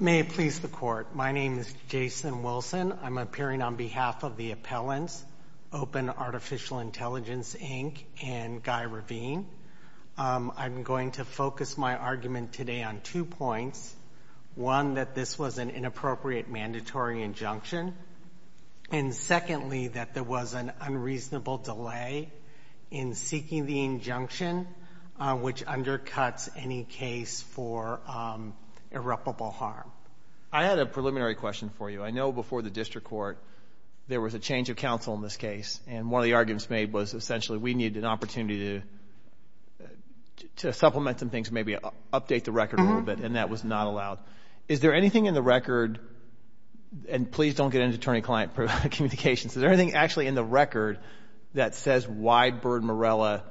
May it please the Court. My name is Jason Wilson. I'm appearing on behalf of the appellants, Open Artificial Intelligence, Inc. and Guy Ravine. I'm going to focus my argument today on two points. One, that this was an inappropriate mandatory injunction. And secondly, that there was an unreasonable delay in seeking the injunction, which undercuts any case for irreparable harm. I had a preliminary question for you. I know before the district court there was a change of counsel in this case, and one of the arguments made was essentially we needed an opportunity to supplement some things, maybe update the record a little bit, and that was not allowed. Is there anything in the record, and please don't get into attorney-client communications, is there anything actually in the record that says Why Bird Morella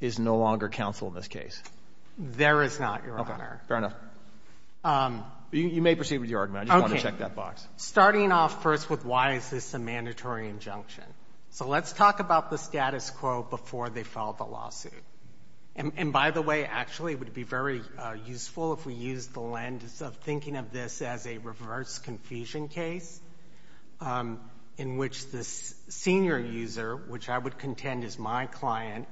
is no longer counsel in this case? There is not, Your Honor. Okay. Fair enough. You may proceed with your argument. I just wanted to check that box. Okay. Starting off first with why is this a mandatory injunction. So let's talk about the status quo before they file the lawsuit. And by the way, actually it would be very useful if we used the lens of thinking of this as a reverse confusion case in which the senior user, which I would contend is my client,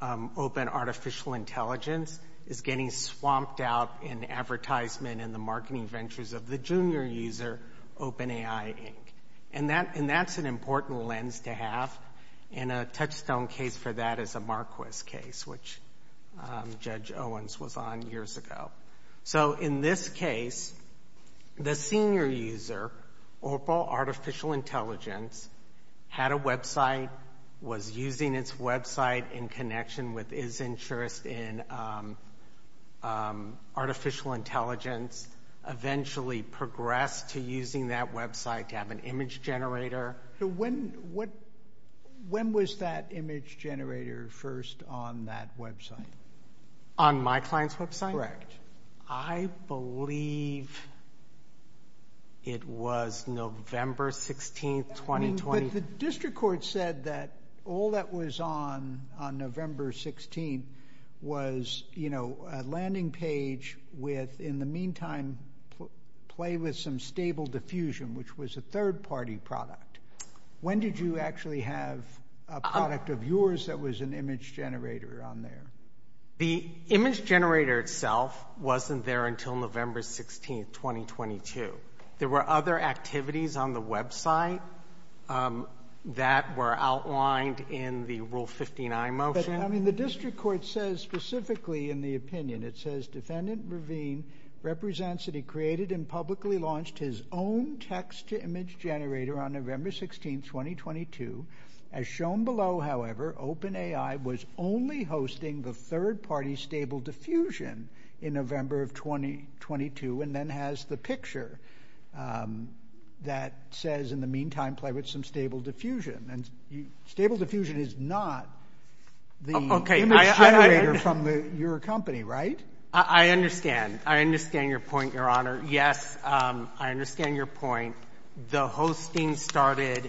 Open Artificial Intelligence, is getting swamped out in advertisement in the marketing ventures of the junior user, Open AI, Inc. And that's an important lens to have, and a touchstone case for that is a Marquis case, which Judge Owens was on years ago. So in this case, the senior user, Open Artificial Intelligence, had a website, was using its website in connection with his interest in artificial intelligence, eventually progressed to using that website to have an image generator. When was that image generator first on that website? On my client's website? That's correct. I believe it was November 16th, 2020. But the district court said that all that was on November 16th was a landing page with, in the meantime, play with some stable diffusion, which was a third-party product. When did you actually have a product of yours that was an image generator on there? The image generator itself wasn't there until November 16th, 2022. There were other activities on the website that were outlined in the Rule 59 motion. I mean, the district court says specifically in the opinion, it says, Defendant Ravine represents that he created and publicly launched his own text-to-image generator on November 16th, 2022. As shown below, however, Open AI was only hosting the third-party stable diffusion in November of 2022 and then has the picture that says, in the meantime, play with some stable diffusion. And stable diffusion is not the image generator from your company, right? I understand. I understand your point, Your Honor. Yes, I understand your point. The hosting started,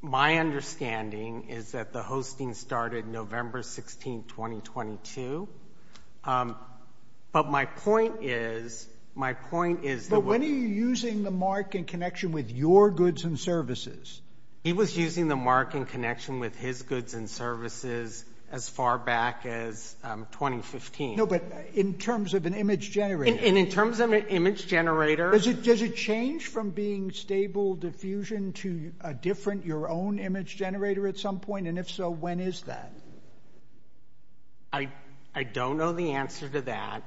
my understanding is that the hosting started November 16th, 2022. But my point is, my point is that when are you using the mark in connection with your goods and services? He was using the mark in connection with his goods and services as far back as 2015. No, but in terms of an image generator. And in terms of an image generator. Does it change from being stable diffusion to a different, your own image generator at some point? And if so, when is that? I don't know the answer to that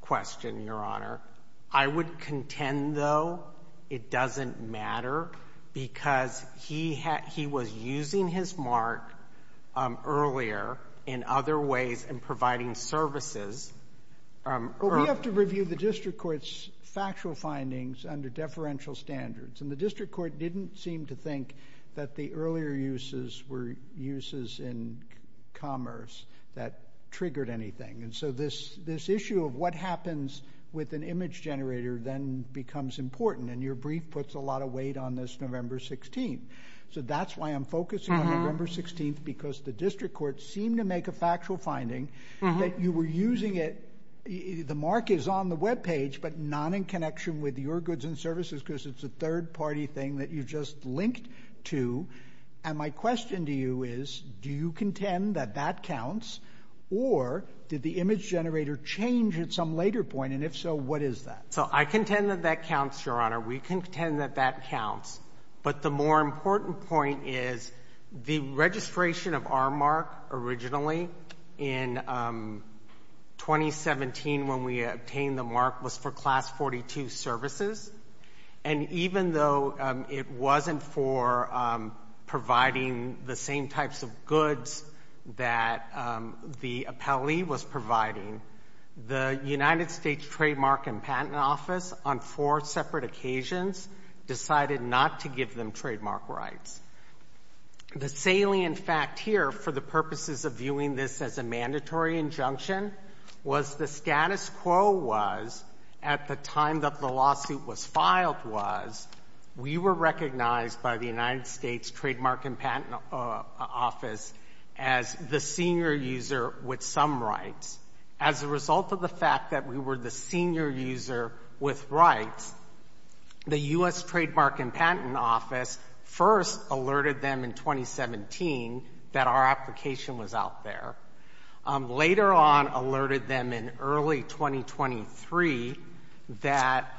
question, Your Honor. I would contend, though, it doesn't matter because he was using his mark earlier in other ways in providing services. Well, we have to review the district court's factual findings under deferential standards. And the district court didn't seem to think that the earlier uses were uses in commerce that triggered anything. And so this issue of what happens with an image generator then becomes important. And your brief puts a lot of weight on this November 16th. So that's why I'm focusing on November 16th because the district court seemed to make a factual finding that you were using it. The mark is on the Web page, but not in connection with your goods and services because it's a third party thing that you just linked to. And my question to you is, do you contend that that counts or did the image generator change at some later point? And if so, what is that? So I contend that that counts, Your Honor. We contend that that counts. But the more important point is the registration of our mark originally in 2017 when we obtained the mark was for Class 42 services. And even though it wasn't for providing the same types of goods that the appellee was providing, the United States Trademark and Patent Office on four separate occasions decided not to give them trademark rights. The salient fact here for the purposes of viewing this as a mandatory injunction was the status quo was at the time that the lawsuit was filed was we were recognized by the United States Trademark and Patent Office as the senior user with some rights. As a result of the fact that we were the senior user with rights, the U.S. Trademark and Patent Office first alerted them in 2017 that our application was out there. Later on alerted them in early 2023 that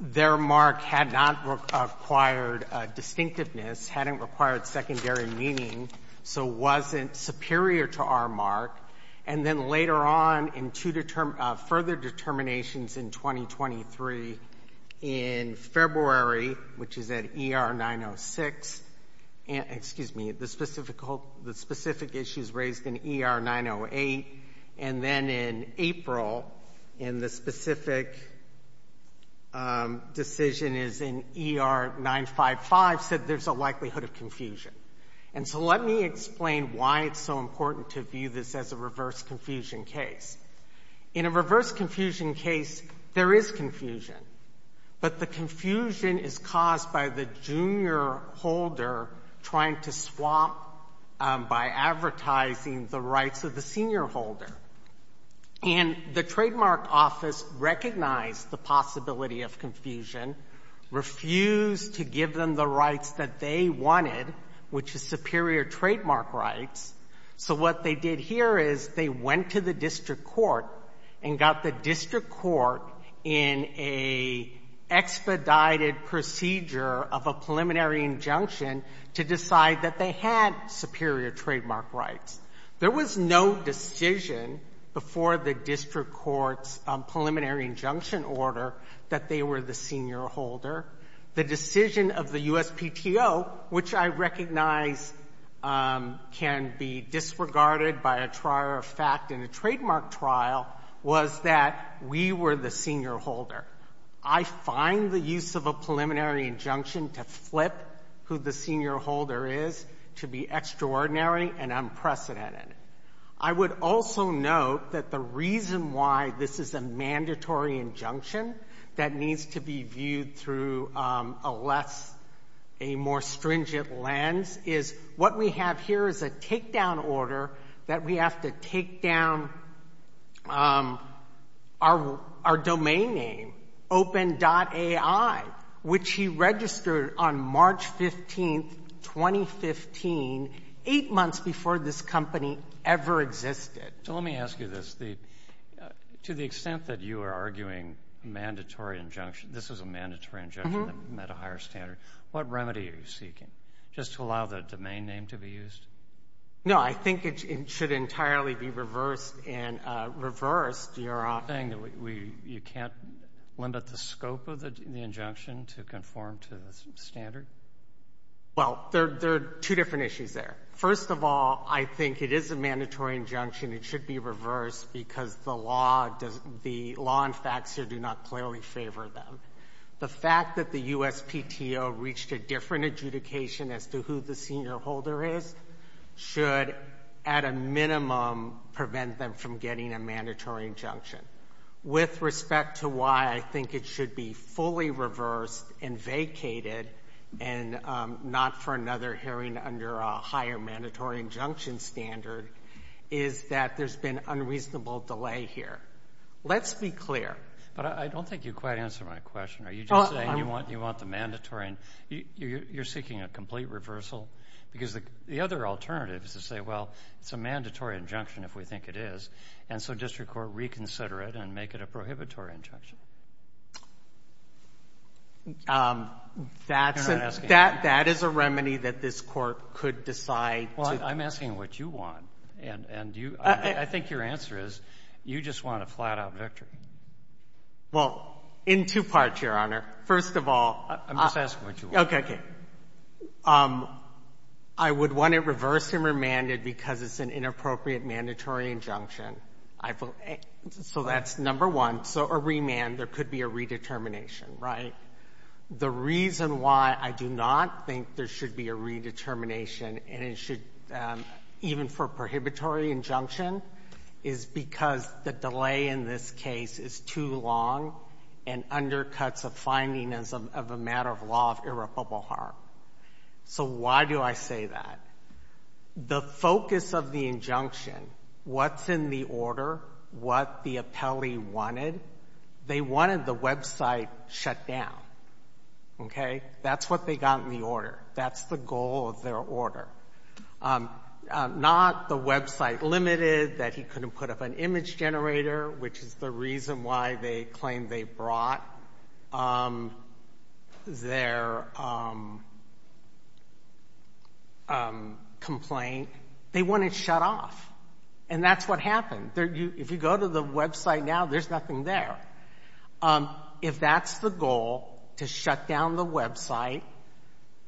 their mark had not required distinctiveness, hadn't required secondary meaning, so wasn't superior to our mark. And then later on in two further determinations in 2023 in February, which is at ER 906, excuse me, the specific issues raised in ER 908, and then in April in the specific decision is in ER 955, said there's a likelihood of confusion. And so let me explain why it's so important to view this as a reverse confusion case. In a reverse confusion case, there is confusion, but the confusion is caused by the junior holder trying to swap by advertising the rights of the senior holder. And the Trademark Office recognized the possibility of confusion, refused to give them the rights that they wanted, which is superior trademark rights. So what they did here is they went to the district court and got the district court in an expedited procedure of a preliminary injunction to decide that they had superior trademark rights. There was no decision before the district court's preliminary injunction order that they were the senior holder. The decision of the USPTO, which I recognize can be disregarded by a trial of fact in a trademark trial, was that we were the senior holder. I find the use of a preliminary injunction to flip who the senior holder is to be extraordinary and unprecedented. I would also note that the reason why this is a mandatory injunction that needs to be viewed through a less, a more stringent lens, is what we have here is a takedown order that we have to take down our domain name, open.ai, which he registered on March 15, 2015, eight months before this company ever existed. So let me ask you this. To the extent that you are arguing mandatory injunction, this is a mandatory injunction that met a higher standard, what remedy are you seeking just to allow the domain name to be used? No, I think it should entirely be reversed and reversed. You're saying that you can't limit the scope of the injunction to conform to the standard? Well, there are two different issues there. First of all, I think it is a mandatory injunction. It should be reversed because the law and facts here do not clearly favor them. The fact that the USPTO reached a different adjudication as to who the senior holder is should, at a minimum, prevent them from getting a mandatory injunction. With respect to why I think it should be fully reversed and vacated, and not for another hearing under a higher mandatory injunction standard, is that there's been unreasonable delay here. Let's be clear. But I don't think you quite answered my question. Are you just saying you want the mandatory? You're seeking a complete reversal? Because the other alternative is to say, well, it's a mandatory injunction if we think it is. And so district court, reconsider it and make it a prohibitory injunction. That's a remedy that this Court could decide to do. Well, I'm asking what you want. And I think your answer is you just want a flat-out victory. Well, in two parts, Your Honor. First of all, I would want it reversed and remanded because it's an inappropriate mandatory injunction. So that's number one. So a remand, there could be a redetermination, right? The reason why I do not think there should be a redetermination and it should, even for a prohibitory injunction, is because the delay in this case is too long and undercuts a finding of a matter of law of irreparable harm. So why do I say that? The focus of the injunction, what's in the order, what the appellee wanted, they wanted the website shut down. Okay? That's what they got in the order. That's the goal of their order. Not the website limited, that he couldn't put up an image generator, which is the reason why they claim they brought their complaint. They want it shut off. And that's what happened. If you go to the website now, there's nothing there. If that's the goal, to shut down the website,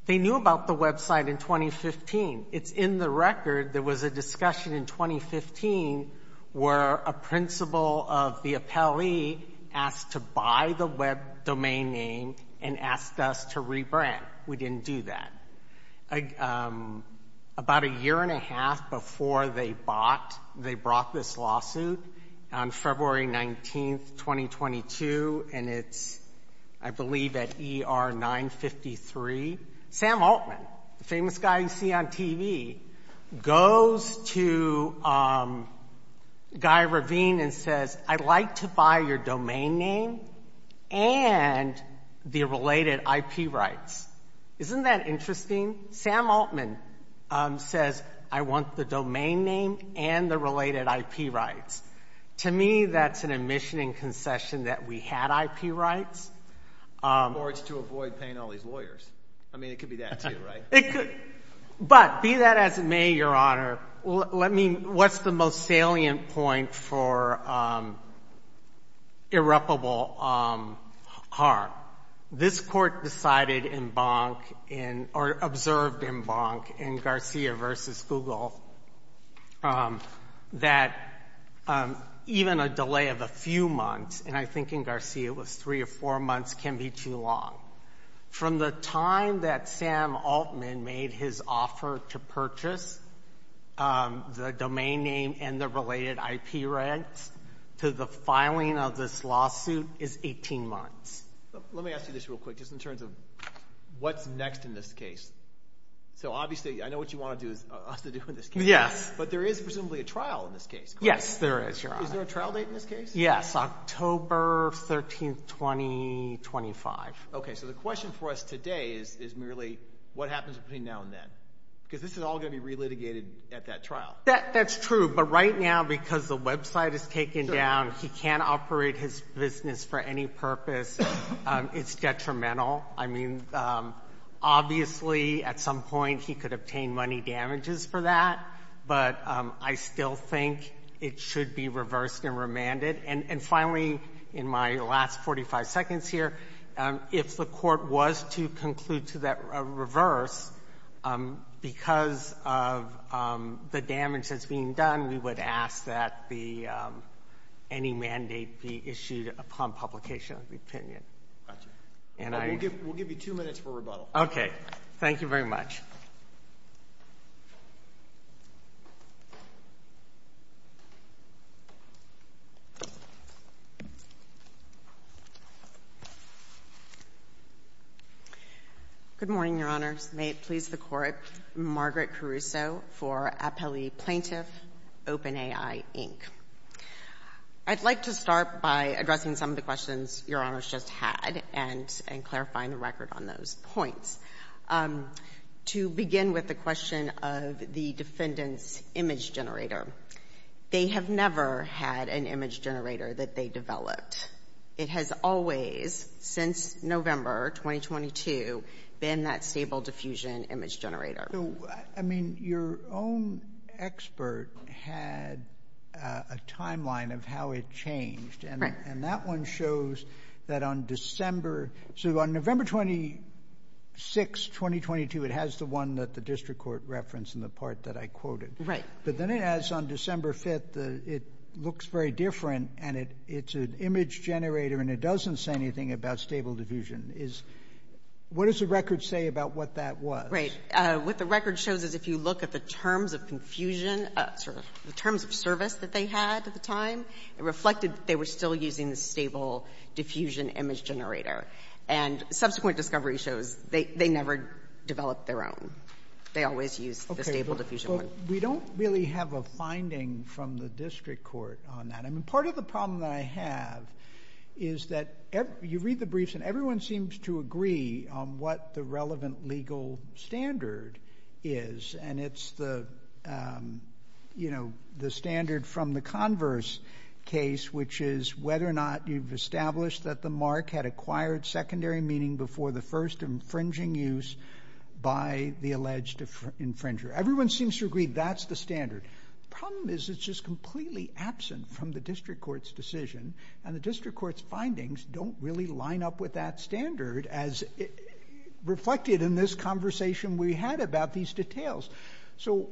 they knew about the website in 2015. It's in the record. There was a discussion in 2015 where a principal of the appellee asked to buy the web domain name and asked us to rebrand. We didn't do that. About a year and a half before they bought, they brought this lawsuit on February 19, 2022, and it's, I believe, at ER 953. Sam Altman, the famous guy you see on TV, goes to Guy Ravine and says, I'd like to buy your domain name and the related IP rights. Isn't that interesting? Sam Altman says, I want the domain name and the related IP rights. To me, that's an admission and concession that we had IP rights. Or it's to avoid paying all these lawyers. I mean, it could be that too, right? But be that as it may, Your Honor, what's the most salient point for irreparable harm? This court decided in Bonk or observed in Bonk in Garcia v. Google that even a delay of a few months, and I think in Garcia it was three or four months, can be too long. From the time that Sam Altman made his offer to purchase the domain name and the related IP rights to the filing of this lawsuit is 18 months. Let me ask you this real quick, just in terms of what's next in this case. So, obviously, I know what you want us to do in this case. Yes. But there is presumably a trial in this case, correct? Yes, there is, Your Honor. Is there a trial date in this case? Yes, October 13, 2025. Okay. So the question for us today is merely what happens between now and then? Because this is all going to be relitigated at that trial. That's true. But right now, because the website is taken down, he can't operate his business for any purpose. It's detrimental. I mean, obviously, at some point he could obtain money damages for that. But I still think it should be reversed and remanded. And finally, in my last 45 seconds here, if the Court was to conclude to that reverse, because of the damage that's being done, we would ask that any mandate be issued upon publication of the opinion. We'll give you two minutes for rebuttal. Okay. Thank you very much. Good morning, Your Honors. May it please the Court, Margaret Caruso for Appellee Plaintiff, OpenAI, Inc. I'd like to start by addressing some of the questions Your Honors just had and clarifying the record on those points. To begin with the question of the defendant's image generator, they have never had an image generator that they developed. It has always, since November 2022, been that stable diffusion image generator. So, I mean, your own expert had a timeline of how it changed. Right. And that one shows that on December, so on November 26, 2022, it has the one that the district court referenced in the part that I quoted. But then it has, on December 5th, it looks very different, and it's an image generator and it doesn't say anything about stable diffusion. What does the record say about what that was? Right. What the record shows is if you look at the terms of confusion, the terms of service that they had at the time, it reflected that they were still using the stable diffusion image generator. And subsequent discovery shows they never developed their own. They always used the stable diffusion one. We don't really have a finding from the district court on that. I mean, part of the problem that I have is that you read the briefs and everyone seems to agree on what the relevant legal standard is, and it's the standard from the converse case, which is whether or not you've established that the mark had acquired secondary meaning before the first infringing use by the alleged infringer. Everyone seems to agree that's the standard. The problem is it's just completely absent from the district court's decision, and the district court's findings don't really line up with that standard as reflected in this conversation we had about these details. So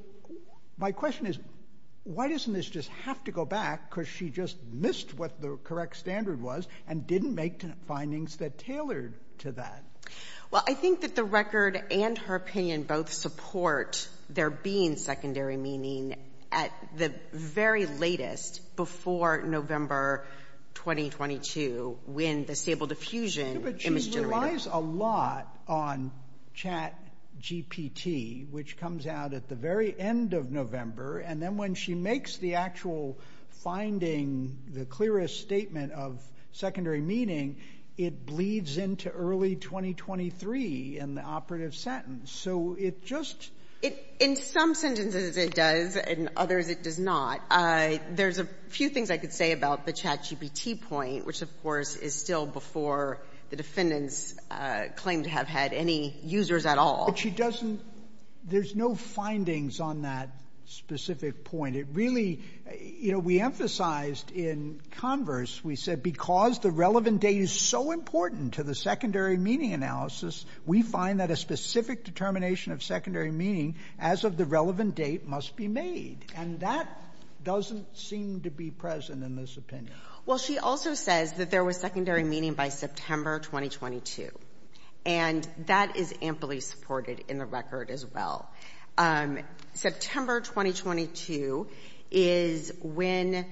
my question is why doesn't this just have to go back because she just missed what the correct standard was and didn't make findings that tailored to that? Well, I think that the record and her opinion both support there being secondary meaning at the very latest before November 2022 when the stable diffusion image generator... ...comes out at the very end of November, and then when she makes the actual finding, the clearest statement of secondary meaning, it bleeds into early 2023 in the operative sentence. So it just... In some sentences it does, in others it does not. There's a few things I could say about the CHAT GPT point, which, of course, is still before the defendants claim to have had any users at all. But she doesn't — there's no findings on that specific point. It really — you know, we emphasized in converse, we said, because the relevant date is so important to the secondary meaning analysis, we find that a specific determination of secondary meaning as of the relevant date must be made. And that doesn't seem to be present in this opinion. Well, she also says that there was secondary meaning by September 2022, and that is amply supported in the record as well. September 2022 is when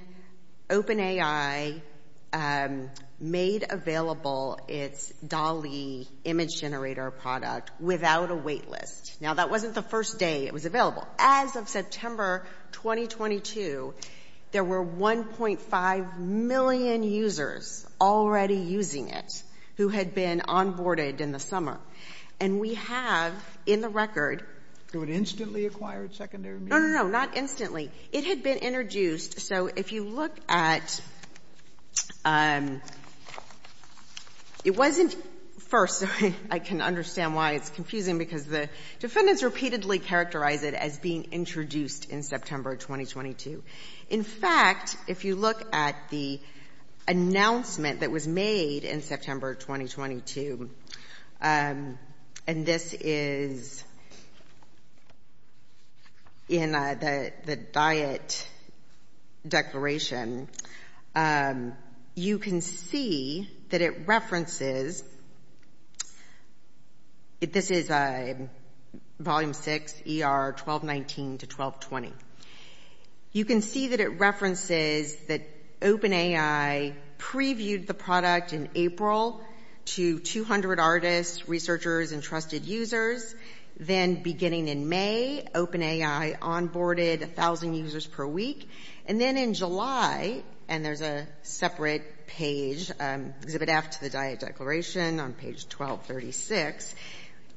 OpenAI made available its DALI image generator product without a wait list. Now, that wasn't the first day it was available. As of September 2022, there were 1.5 million users already using it who had been onboarded in the summer. And we have in the record — So it instantly acquired secondary meaning? No, no, no, not instantly. It had been introduced. So if you look at — it wasn't first, so I can understand why it's confusing, because the defendants repeatedly characterize it as being introduced in September 2022. In fact, if you look at the announcement that was made in September 2022, and this is in the diet declaration, you can see that it references — this is Volume 6, ER 1219 to 1220. You can see that it references that OpenAI previewed the product in April to 200 artists, researchers, and trusted users. Then beginning in May, OpenAI onboarded 1,000 users per week. And then in July — and there's a separate page, Exhibit F to the diet declaration on page 1236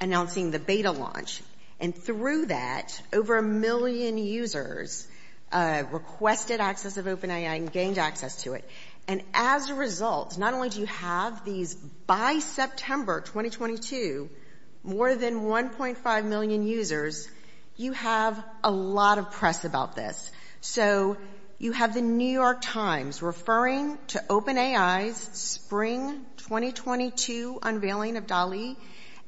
announcing the beta launch. And through that, over a million users requested access of OpenAI and gained access to it. And as a result, not only do you have these — by September 2022, more than 1.5 million users, you have a lot of press about this. So you have the New York Times referring to OpenAI's spring 2022 unveiling of DALI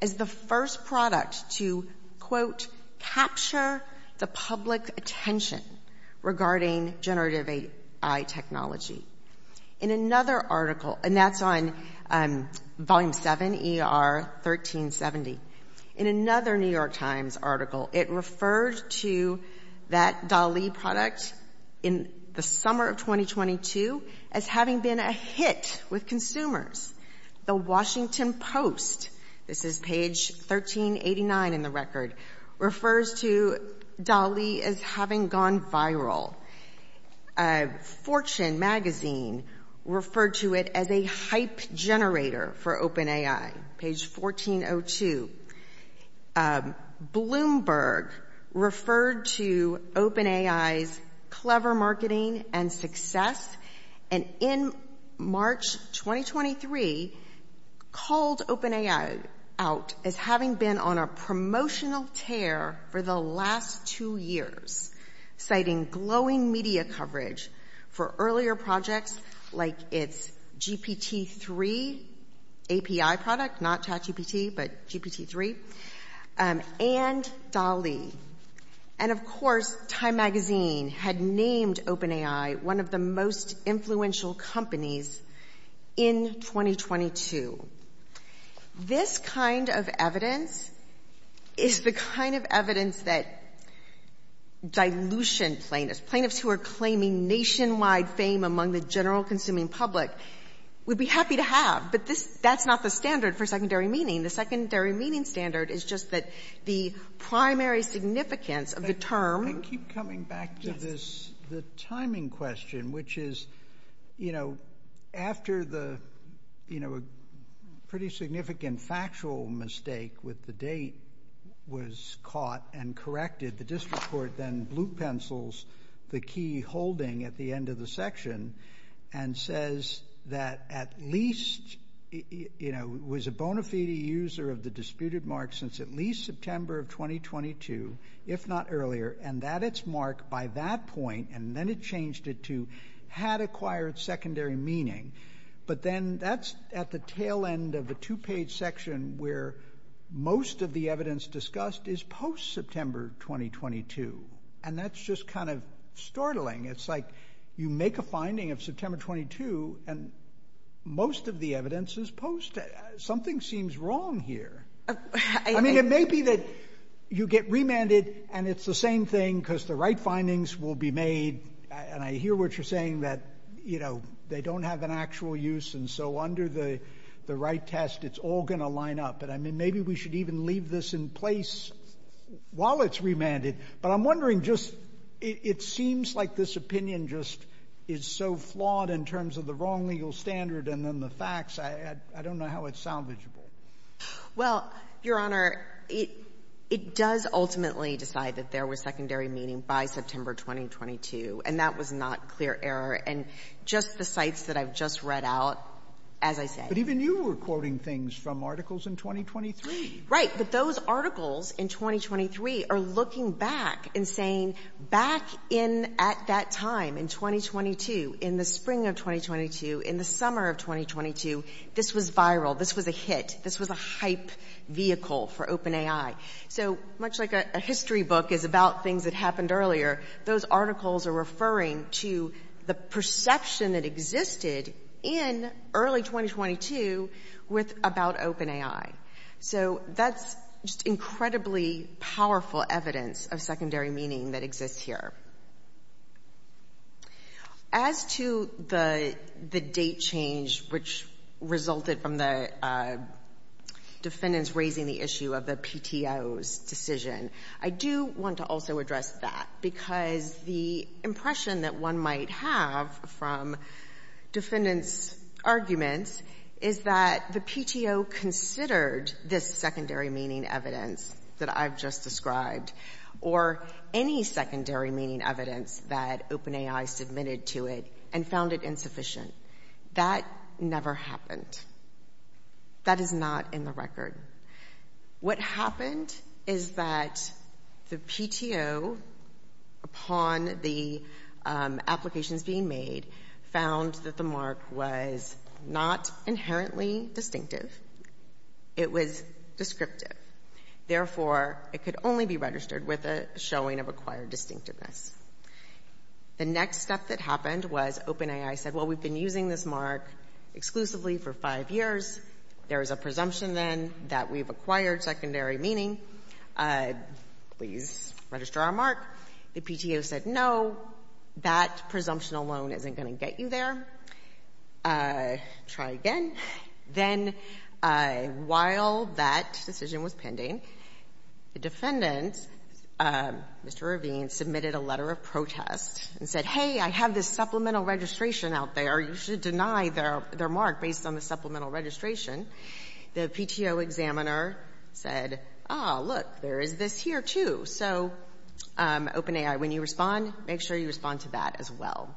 as the first product to, quote, capture the public attention regarding generative AI technology. In another article — and that's on Volume 7, ER 1370. In another New York Times article, it referred to that DALI product in the summer of 2022 as having been a hit with consumers. The Washington Post — this is page 1389 in the record — refers to DALI as having gone viral. Fortune magazine referred to it as a hype generator for OpenAI. Page 1402. Bloomberg referred to OpenAI's clever marketing and success. And in March 2023, called OpenAI out as having been on a promotional tear for the last two years, citing glowing media coverage for earlier projects like its GPT-3 API product — not ChatGPT, but GPT-3 — and DALI. And, of course, Time magazine had named OpenAI one of the most influential companies in 2022. This kind of evidence is the kind of evidence that dilution plaintiffs — who are claiming nationwide fame among the general consuming public — would be happy to have. But that's not the standard for secondary meaning. The secondary meaning standard is just that the primary significance of the term — I keep coming back to this, the timing question, which is, you know, after the pretty significant factual mistake with the date was caught and corrected, the district court then blue pencils the key holding at the end of the section and says that at least, you know, it was a bona fide user of the disputed mark since at least September of 2022, if not earlier, and that its mark by that point, and then it changed it to, had acquired secondary meaning. But then that's at the tail end of a two-page section where most of the evidence discussed is post-September 2022, and that's just kind of startling. It's like you make a finding of September 22, and most of the evidence is post. Something seems wrong here. I mean, it may be that you get remanded, and it's the same thing because the right findings will be made, and I hear what you're saying that, you know, they don't have an actual use, and so under the right test, it's all going to line up. But I mean, maybe we should even leave this in place while it's remanded. But I'm wondering just it seems like this opinion just is so flawed in terms of the wrong legal standard and then the facts. I don't know how it's salvageable. Well, Your Honor, it does ultimately decide that there was secondary meaning by September 2022, and that was not clear error. And just the cites that I've just read out, as I said — Right, but those articles in 2023 are looking back and saying back in at that time in 2022, in the spring of 2022, in the summer of 2022, this was viral. This was a hit. This was a hype vehicle for open AI. So much like a history book is about things that happened earlier, those articles are referring to the perception that existed in early 2022 with about open AI. So that's just incredibly powerful evidence of secondary meaning that exists here. As to the date change which resulted from the defendants raising the issue of the PTO's decision, I do want to also address that because the impression that one might have from defendants' arguments is that the PTO considered this secondary meaning evidence that I've just described or any secondary meaning evidence that open AI submitted to it and found it insufficient. That never happened. That is not in the record. What happened is that the PTO, upon the applications being made, found that the mark was not inherently distinctive. It was descriptive. Therefore, it could only be registered with a showing of acquired distinctiveness. The next step that happened was open AI said, well, we've been using this mark exclusively for five years. There is a presumption, then, that we've acquired secondary meaning. Please register our mark. The PTO said, no, that presumption alone isn't going to get you there. Try again. Then while that decision was pending, the defendant, Mr. Ravine, submitted a letter of protest and said, hey, I have this supplemental registration out there. You should deny their mark based on the supplemental registration. The PTO examiner said, ah, look, there is this here, too. So open AI, when you respond, make sure you respond to that as well.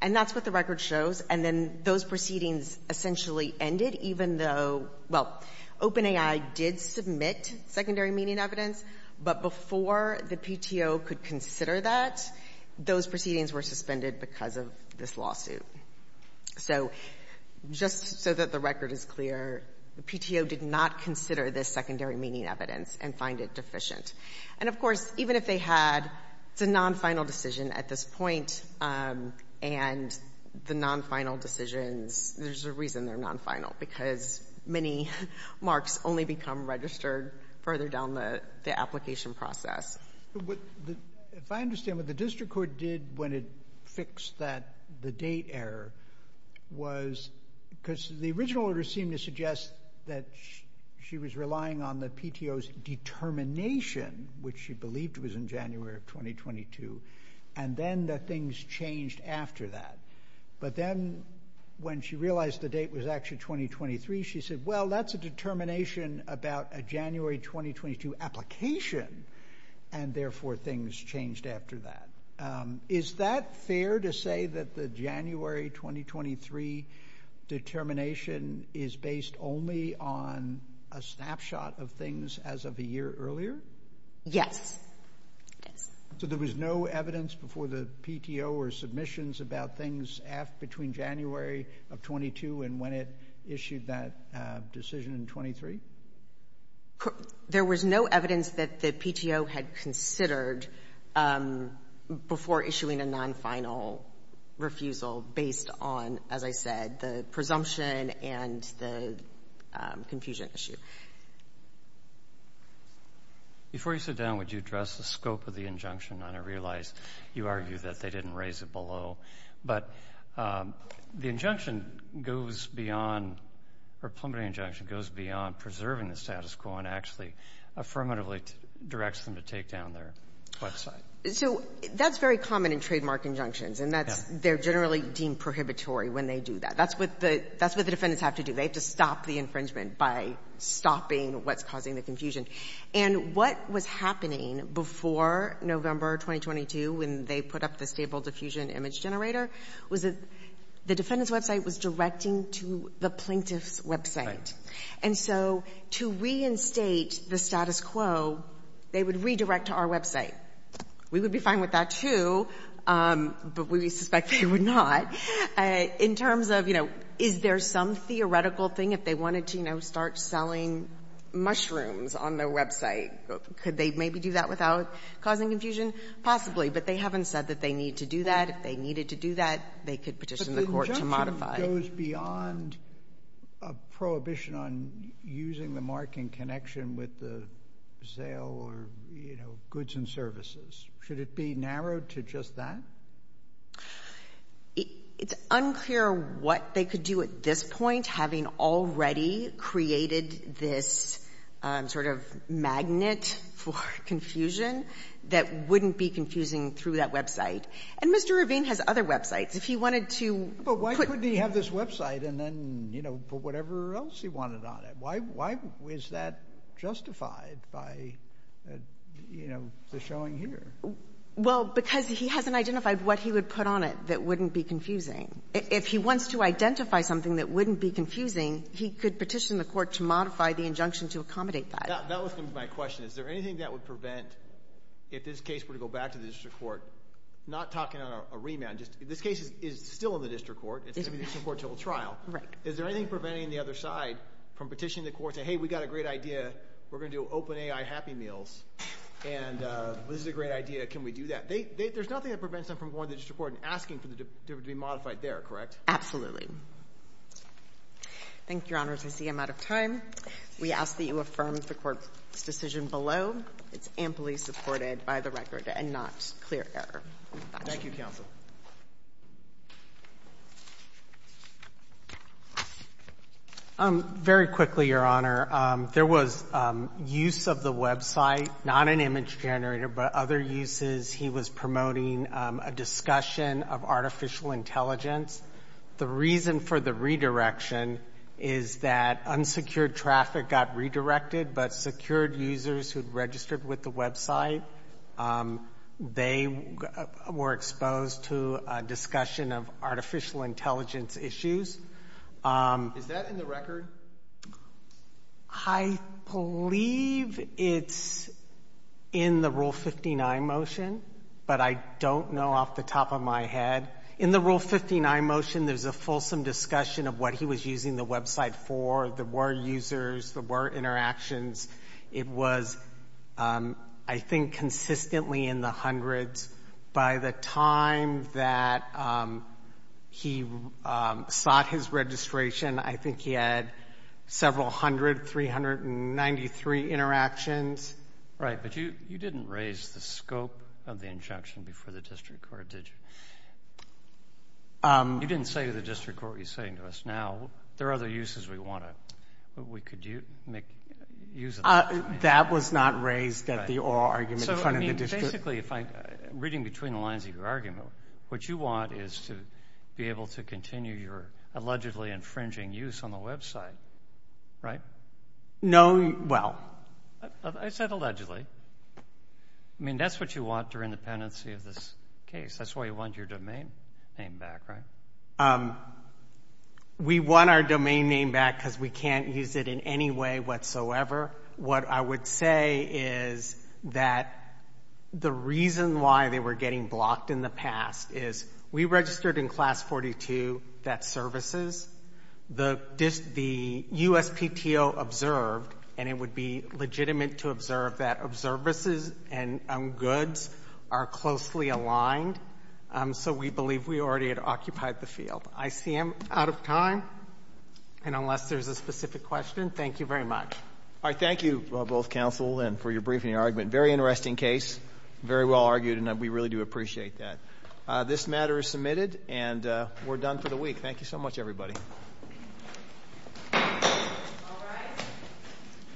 And that's what the record shows. And then those proceedings essentially ended, even though, well, open AI did submit secondary meaning evidence. But before the PTO could consider that, those proceedings were suspended because of this lawsuit. So just so that the record is clear, the PTO did not consider this secondary meaning evidence and find it deficient. And, of course, even if they had, it's a nonfinal decision at this point, and the nonfinal decisions, there's a reason they're nonfinal, because many marks only become registered further down the application process. If I understand what the district court did when it fixed that, the date error, was because the original order seemed to suggest that she was relying on the PTO's determination, which she believed was in January of 2022, and then the things changed after that. But then when she realized the date was actually 2023, she said, well, that's a determination about a January 2022 application, and therefore things changed after that. Is that fair to say that the January 2023 determination is based only on a snapshot of things as of a year earlier? Yes. So there was no evidence before the PTO or submissions about things between January of 22 and when it issued that decision in 23? There was no evidence that the PTO had considered before issuing a nonfinal refusal based on, as I said, the presumption and the confusion issue. Before you sit down, would you address the scope of the injunction? I realize you argue that they didn't raise it below. But the injunction goes beyond, or preliminary injunction goes beyond preserving the status quo and actually affirmatively directs them to take down their website. So that's very common in trademark injunctions, and they're generally deemed prohibitory when they do that. That's what the defendants have to do. They have to stop the infringement by stopping what's causing the confusion. And what was happening before November 2022, when they put up the stable diffusion image generator, was the defendant's website was directing to the plaintiff's website. And so to reinstate the status quo, they would redirect to our website. We would be fine with that, too, but we suspect they would not. In terms of, you know, is there some theoretical thing, if they wanted to, you know, start selling mushrooms on their website, could they maybe do that without causing confusion? Possibly. But they haven't said that they need to do that. If they needed to do that, they could petition the court to modify it. But the injunction goes beyond a prohibition on using the mark in connection with the sale or, you know, goods and services. Should it be narrowed to just that? It's unclear what they could do at this point, having already created this sort of magnet for confusion that wouldn't be confusing through that website. And Mr. Ravine has other websites. If he wanted to put the other website and then, you know, put whatever else he wanted on it, why was that justified by, you know, the showing here? Well, because he hasn't identified what he would put on it that wouldn't be confusing. If he wants to identify something that wouldn't be confusing, he could petition the court to modify the injunction to accommodate that. That was my question. Is there anything that would prevent, if this case were to go back to the district court, not talking about a remand, just this case is still in the district court, it's going to be in the district court until trial. Right. Is there anything preventing the other side from petitioning the court to say, hey, we've got a great idea, we're going to do open AI happy meals, and this is a great idea, can we do that? There's nothing that prevents them from going to the district court and asking for it to be modified there, correct? Absolutely. Thank you, Your Honors. I see I'm out of time. We ask that you affirm the court's decision below. It's amply supported by the record and not clear error. Thank you, counsel. Very quickly, Your Honor. There was use of the website, not an image generator, but other uses. He was promoting a discussion of artificial intelligence. The reason for the redirection is that unsecured traffic got redirected, but secured users who had registered with the website, they were exposed to a discussion of artificial intelligence issues. Is that in the record? I believe it's in the Rule 59 motion, but I don't know off the top of my head. In the Rule 59 motion, there's a fulsome discussion of what he was using the website for. There were users, there were interactions. It was, I think, consistently in the hundreds. By the time that he sought his registration, I think he had several hundred, 393 interactions. Right, but you didn't raise the scope of the injunction before the district court, did you? You didn't say to the district court what you're saying to us now. There are other uses we want to. We could use them. That was not raised at the oral argument in front of the district. Basically, reading between the lines of your argument, what you want is to be able to continue your allegedly infringing use on the website, right? No, well. I said allegedly. I mean, that's what you want during the pendency of this case. That's why you want your domain name back, right? We want our domain name back because we can't use it in any way whatsoever. What I would say is that the reason why they were getting blocked in the past is we registered in Class 42 that services. The USPTO observed, and it would be legitimate to observe, that services and goods are closely aligned. So we believe we already had occupied the field. I see I'm out of time. And unless there's a specific question, thank you very much. Thank you, both counsel, and for your briefing and argument. Very interesting case. Very well argued, and we really do appreciate that. This matter is submitted, and we're done for the week. Thank you so much, everybody. All right.